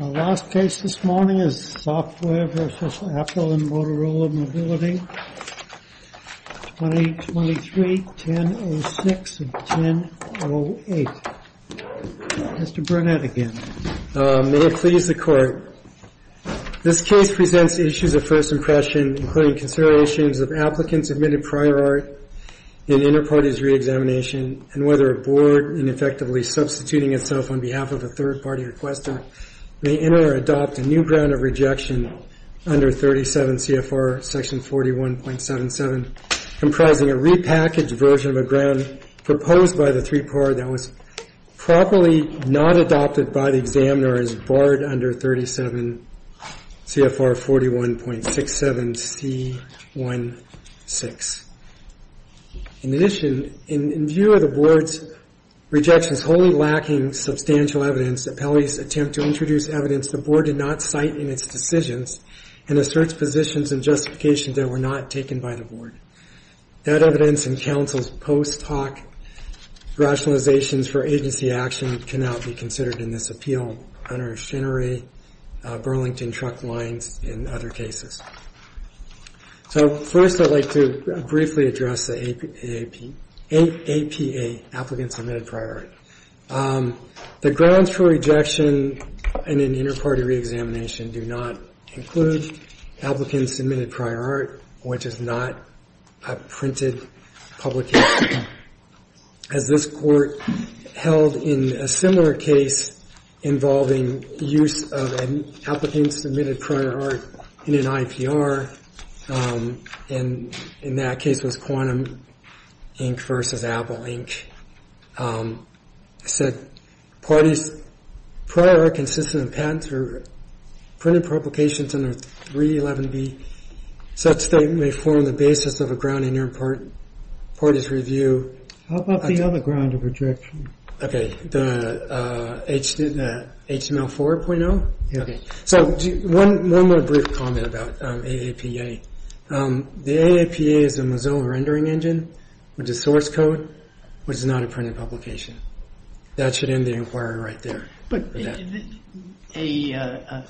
Our last case this morning is Software v. Apple and Motorola Mobility 2023-10-06 and 10-08. Mr. Burnett again. May it please the court. This case presents issues of first impression, including considerations of applicants admitted prior art in inter-parties re-examination and whether a board in effectively substituting itself on behalf of a third party requester may enter or adopt a new ground of rejection under 37 CFR section 41.77 comprising a repackaged version of a ground proposed by the three-part that was properly not adopted by the examiner as barred under 37 CFR 41.67 C-1-6. In addition, in view of the board's rejections wholly lacking substantial evidence, the appellee's attempt to introduce evidence the board did not cite in its decisions and asserts positions and justifications that were not taken by the board. That evidence and counsel's post hoc rationalizations for agency action cannot be considered in this appeal under Chenery, Burlington, Truck Lines, and other cases. So first I'd like to briefly address the APA, APA, Applicant Submitted Prior Art. The grounds for rejection in an inter-party re-examination do not include Applicant Submitted Prior Art, which is not a printed publication, as this court held in a similar case involving use of an Applicant Submitted Prior Art in an IPA. In that case it was Quantum Inc. versus Apple Inc. I said parties prior art consistent with patents or printed publications under 311B such that it may form the basis of a ground in your party's review. How about the other ground of rejection? Okay, the HTML 4.0? Okay, so one more brief comment about AAPA. The AAPA is a Mazzone rendering engine, which is source code, which is not a printed publication. That should end the inquiry right there. But a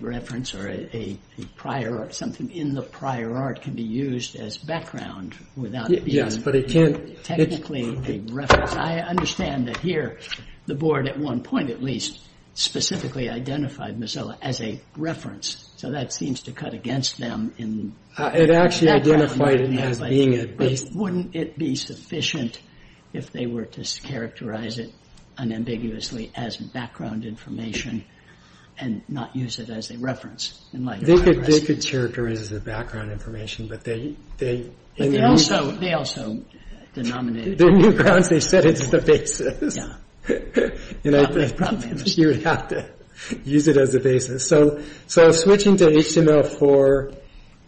reference or a prior art, something in the prior art can be used as background without it being technically a reference. I understand that here the board at one point at least specifically identified Mazzone as a reference. So that seems to cut against them. It actually identified it as being a base. Wouldn't it be sufficient if they were to characterize it unambiguously as background information and not use it as a reference? They could characterize it as background information, but they... Their new grounds, they said it's the basis. You would have to use it as a basis. So switching to HTML 4.0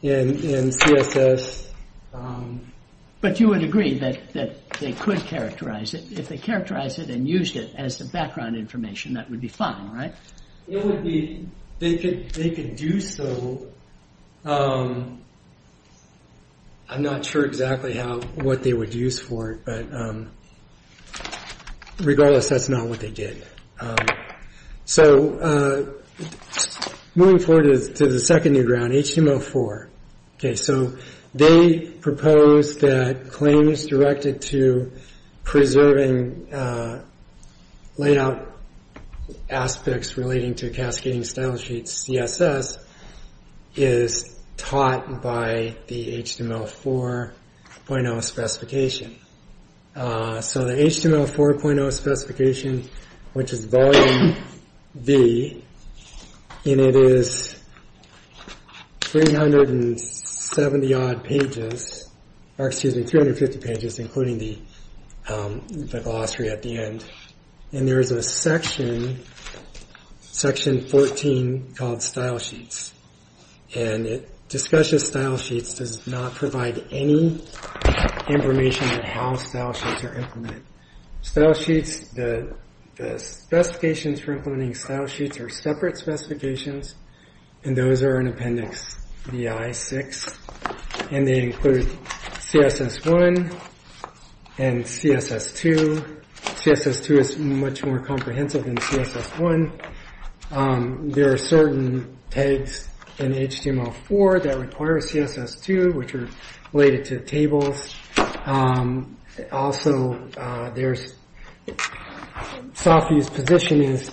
and CSS... But you would agree that they could characterize it. If they characterized it and used it as the background information, that would be fine, right? They could do so. I'm not sure exactly what they would use for it, but regardless, that's not what they did. So moving forward to the second new ground, HTML 4. Okay, so they proposed that claims directed to preserving layout aspects relating to cascading style sheets, CSS, is taught by the HTML 4.0 specification. So the HTML 4.0 specification, which is Volume B, and it is 370-odd pages, or excuse me, 350 pages, including the glossary at the end. And there is a section, Section 14, called Style Sheets. And it discusses style sheets, does not provide any information on how style sheets are implemented. Style sheets, the specifications for implementing style sheets are separate specifications. And those are in Appendix VI-6. And they include CSS1 and CSS2. CSS2 is much more comprehensive than CSS1. There are certain tags in HTML 4 that require CSS2, which are related to tables. Also, their soft use position is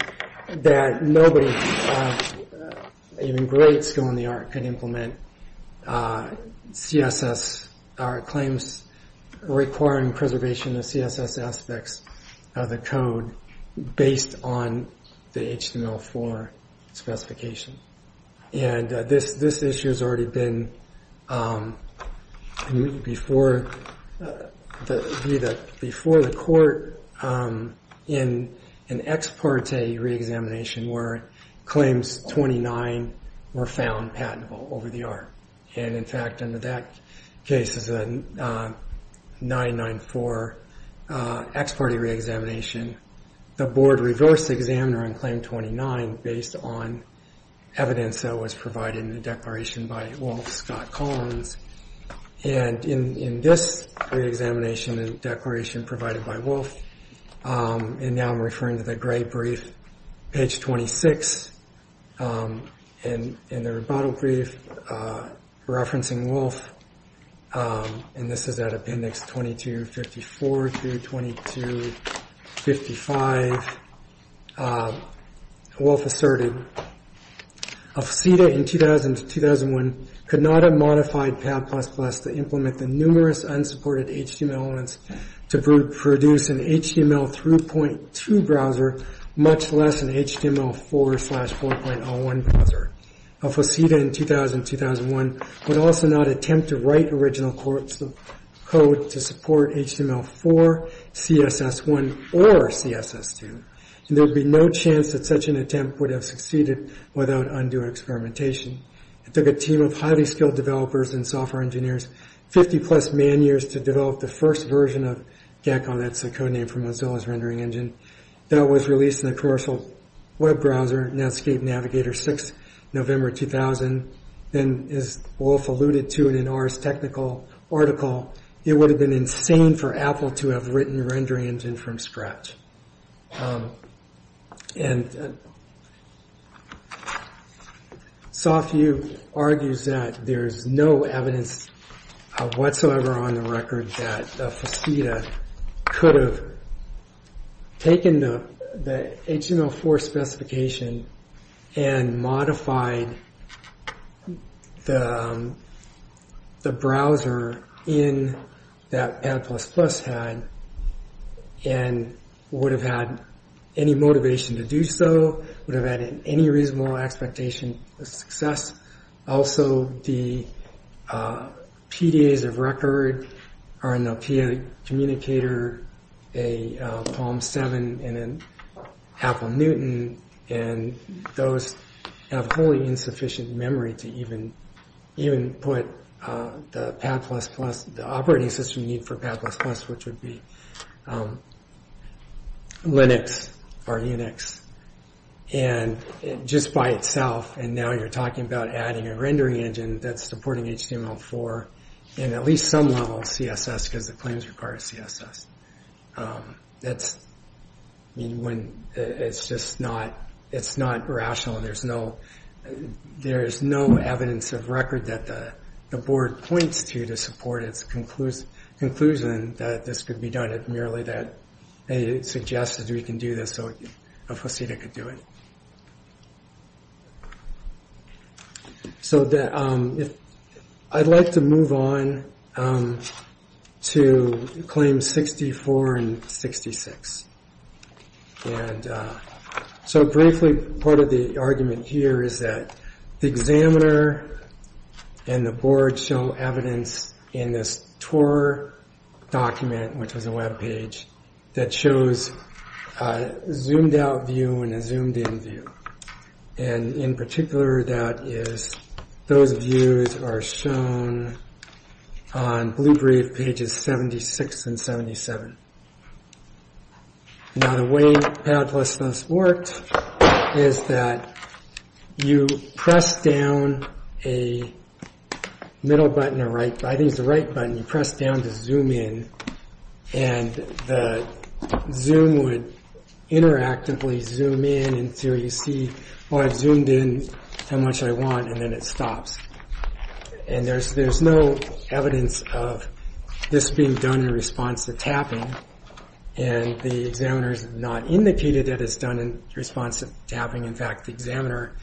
that nobody, even great skill in the art, can implement CSS, or claims requiring preservation of CSS aspects of the code based on the HTML 4 specification. And this issue has already been before the court in an ex parte re-examination where claims 29 were found patentable over the art. And in fact, under that case, it's a 994 ex parte re-examination. The board reversed the examiner on claim 29 based on evidence that was provided in the declaration by Wolf Scott Collins. And in this re-examination and declaration provided by Wolf, and now I'm referring to the gray brief, page 26, and the rebuttal brief referencing Wolf, and this is at Appendix 2254 through 2255, Wolf asserted, Al-Fasida in 2000-2001 could not have modified Pad++ to implement the numerous unsupported HTML elements to produce an HTML 3.2 browser, much less an HTML 4 slash 4.01 browser. Al-Fasida in 2000-2001 would also not attempt to write original code to support HTML4, CSS1, or CSS2. And there would be no chance that such an attempt would have succeeded without undue experimentation. It took a team of highly skilled developers and software engineers 50 plus man years to develop the first version of GACL, that's the code name for Mozilla's rendering engine, that was released in a commercial web browser, Netscape Navigator 6, November 2000. And as Wolf alluded to in an Ars Technical article, it would have been insane for Apple to have written a rendering engine from scratch. And Softview argues that there is no evidence whatsoever on the record that Al-Fasida could have taken the HTML4 specification and modified the browser in that Pad++ had and would have had any motivation to do so, would have had any reasonable expectation of success. Also, the PDAs of record are in the PA communicator, a Palm 7 and an Apple Newton, and those have wholly insufficient memory to even put the operating system you need for Pad++, which would be Linux or Unix, just by itself, and now you're talking about adding a rendering engine that's supporting HTML4 and at least some level CSS because the claims require CSS. It's just not rational, there's no evidence of record that the board points to to support its conclusion that this could be done, merely that it suggests that we can do this so Al-Fasida could do it. I'd like to move on to Claims 64 and 66. Briefly, part of the argument here is that the examiner and the board show evidence in this Tor document, which is a web page, that shows a zoomed-out view and a zoomed-in view. In particular, those views are shown on pages 76 and 77. Now, the way Pad++ worked is that you press down a middle button, or I think it's the right button, you press down to zoom in, and the zoom would interactively zoom in until you see, oh, I've zoomed in how much I want, and then it stops. There's no evidence of this being done in response to tapping, and the examiner's not indicated that it's done in response to tapping. In fact, the examiner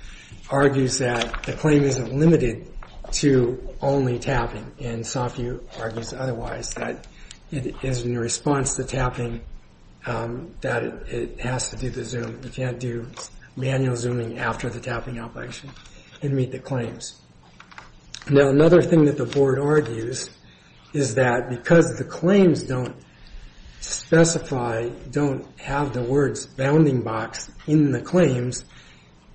argues that the claim isn't limited to only tapping, and Safi argues otherwise, that it is in response to tapping that it has to do the zoom. You can't do manual zooming after the tapping application and meet the claims. Now, another thing that the board argues is that because the claims don't specify, don't have the words bounding box in the claims,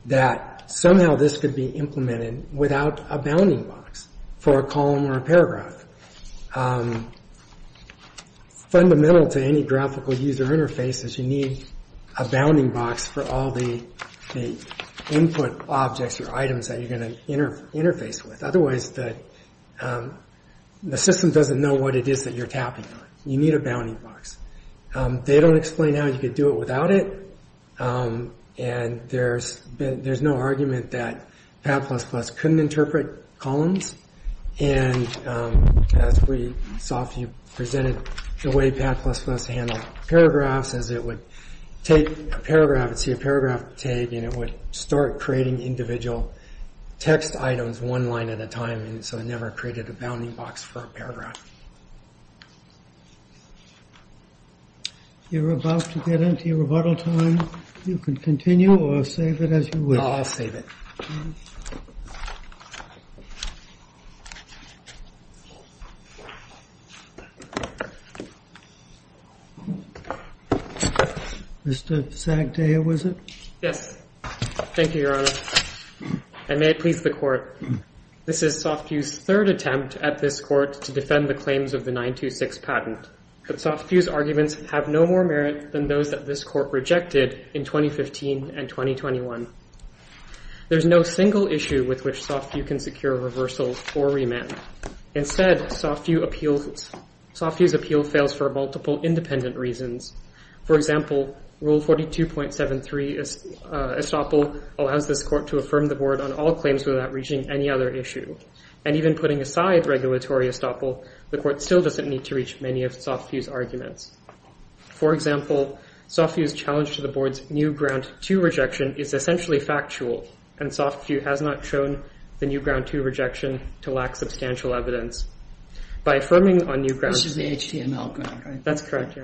that somehow this could be implemented without a bounding box for a column or a paragraph. Fundamental to any graphical user interface is you need a bounding box for all the input objects or items that you're going to interface with. Otherwise, the system doesn't know what it is that you're tapping on. You need a bounding box. They don't explain how you could do it without it, and there's no argument that Pad++ couldn't interpret columns. As Safi presented, the way Pad++ handled paragraphs is it would take a paragraph and it would start creating individual text items one line at a time, so it never created a bounding box for a paragraph. You're about to get into your rebuttal time. You can continue or save it as you wish. I'll save it. Mr. Zagdaia, was it? Yes. Thank you, Your Honor. And may it please the court, this is Safi's third attempt at this court to defend the claims of the 926 patent. But Safi's arguments have no more merit than those that this court rejected in 2015 and 2021. There's no single issue with which Safi can secure reversal or remand. Instead, Safi's appeal fails for multiple independent reasons. For example, Rule 42.73 estoppel allows this court to affirm the board on all claims without reaching any other issue. And even putting aside regulatory estoppel, the court still doesn't need to reach many of Safi's arguments. For example, Safi's challenge to the board's new ground to rejection is essentially factual. And Safi has not shown the new ground to rejection to lack substantial evidence by affirming on new ground. This is the HTML. That's correct.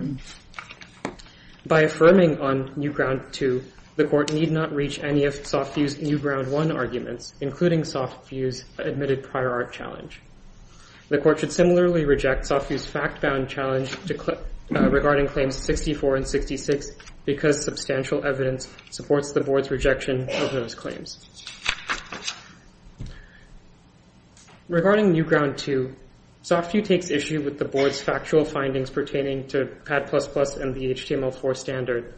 By affirming on new ground to the court need not reach any of Safi's new ground one arguments, including Safi's admitted prior art challenge. The court should similarly reject Safi's fact-bound challenge regarding claims 64 and 66 because substantial evidence supports the board's rejection of those claims. Regarding new ground two, Safi takes issue with the board's factual findings pertaining to Pad++ and the HTML4 standard.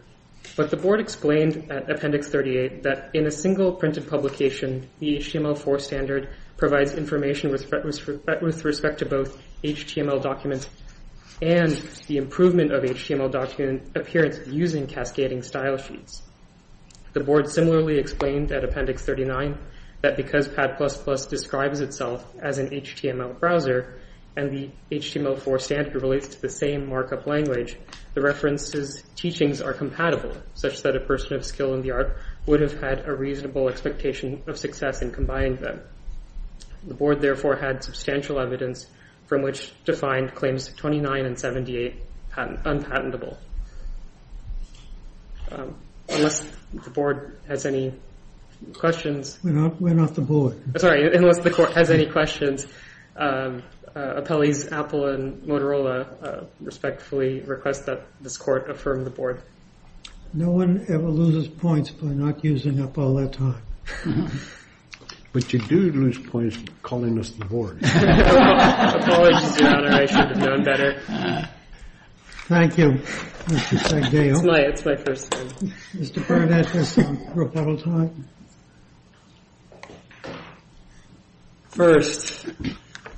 But the board explained at Appendix 38 that in a single printed publication, the HTML4 standard provides information with respect to both HTML documents and the improvement of HTML document appearance using cascading style sheets. The board similarly explained at Appendix 39 that because Pad++ describes itself as an HTML browser and the HTML4 standard relates to the same markup language, the reference's teachings are compatible, such that a person of skill in the art would have had a reasonable expectation of success in combining them. The board therefore had substantial evidence from which to find claims 29 and 78 unpatentable. Unless the board has any questions. We're not the board. Sorry. Unless the court has any questions, appellees Apple and Motorola respectfully request that this court affirm the board. No one ever loses points for not using up all their time. But you do lose points for calling us the board. Apologies, Your Honor. I should have done better. Thank you. It's my, it's my first time. Mr. Barnett has some rebuttal time. First,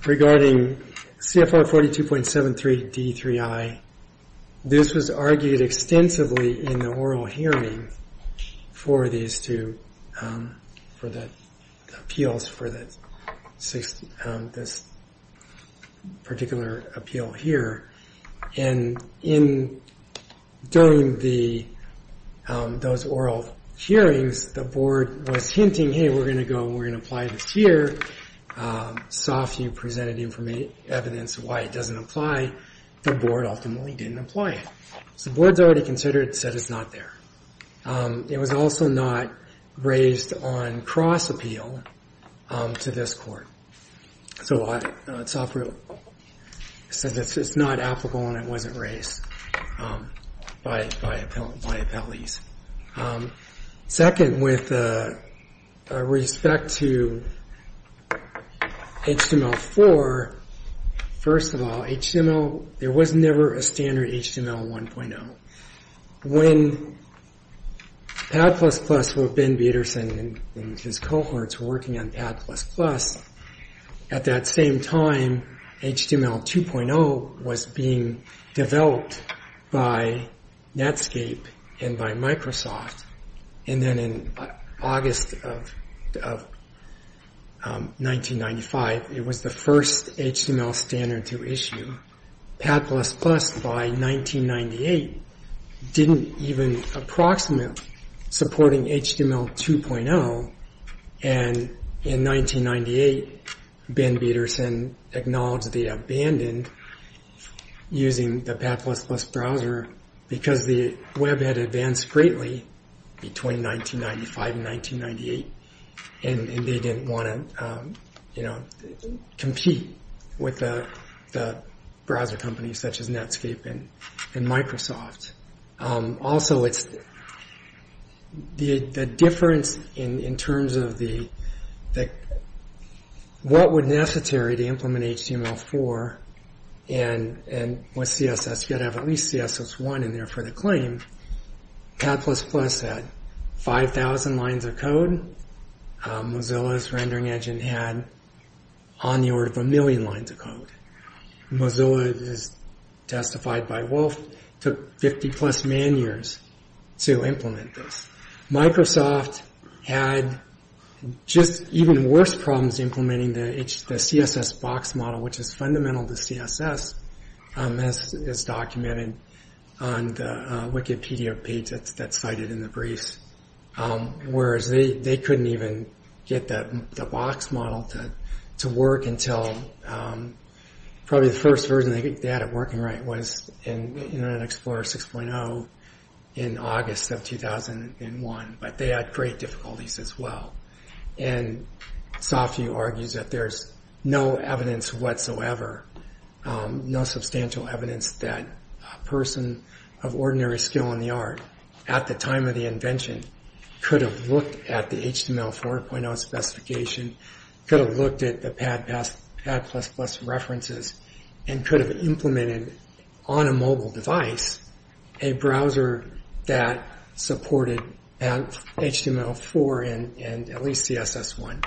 regarding CFR 42.73 D3I, this was argued extensively in the oral hearing for these two, for the appeals for this particular appeal here. And in during the those oral hearings, the board was hinting, hey, we're going to go. We're going to apply this here. Soft, you presented information, evidence of why it doesn't apply. The board ultimately didn't apply it. So what's already considered said it's not there. It was also not raised on cross appeal to this court. So it's not applicable and it wasn't raised by appellees. Second, with respect to HTML 4, first of all, HTML, there was never a standard HTML 1.0. When Pad++ with Ben Peterson and his cohorts working on Pad++, at that same time, HTML 2.0 was being developed by Netscape and by Microsoft. And then in August of 1995, it was the first HTML standard to issue. Pad++ by 1998 didn't even approximate supporting HTML 2.0. And in 1998, Ben Peterson acknowledged the abandoned using the Pad++ browser because the web had advanced greatly between 1995 and 1998. And they didn't want to compete with the browser companies such as Netscape and Microsoft. Also, the difference in terms of what would be necessary to implement HTML 4 and with CSS, you've got to have at least CSS 1 in there for the claim. Pad++ had 5,000 lines of code. Mozilla's rendering engine had on the order of a million lines of code. Mozilla, as testified by Wolf, took 50 plus man years to implement this. Microsoft had just even worse problems implementing the CSS box model, which is fundamental to CSS, as documented on the Wikipedia page that's cited in the briefs. Whereas they couldn't even get the box model to work until probably the first version they had it working right was in Internet Explorer 6.0 in August of 2001. But they had great difficulties as well. And Safi argues that there's no evidence whatsoever, no substantial evidence that a person of ordinary skill in the art at the time of the invention could have looked at the HTML 4.0 specification, could have looked at the Pad++ references, and could have implemented on a mobile device a browser that supported HTML 4 and at least CSS 1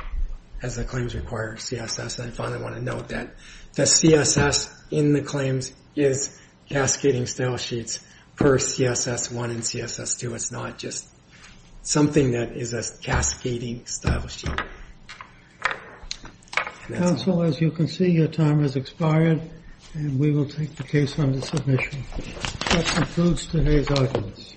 as the claims require CSS. I finally want to note that the CSS in the claims is cascading stylesheets per CSS 1 and CSS 2. It's not just something that is a cascading stylesheet. Counsel, as you can see, your time has expired, and we will take the case under submission. That concludes today's audience.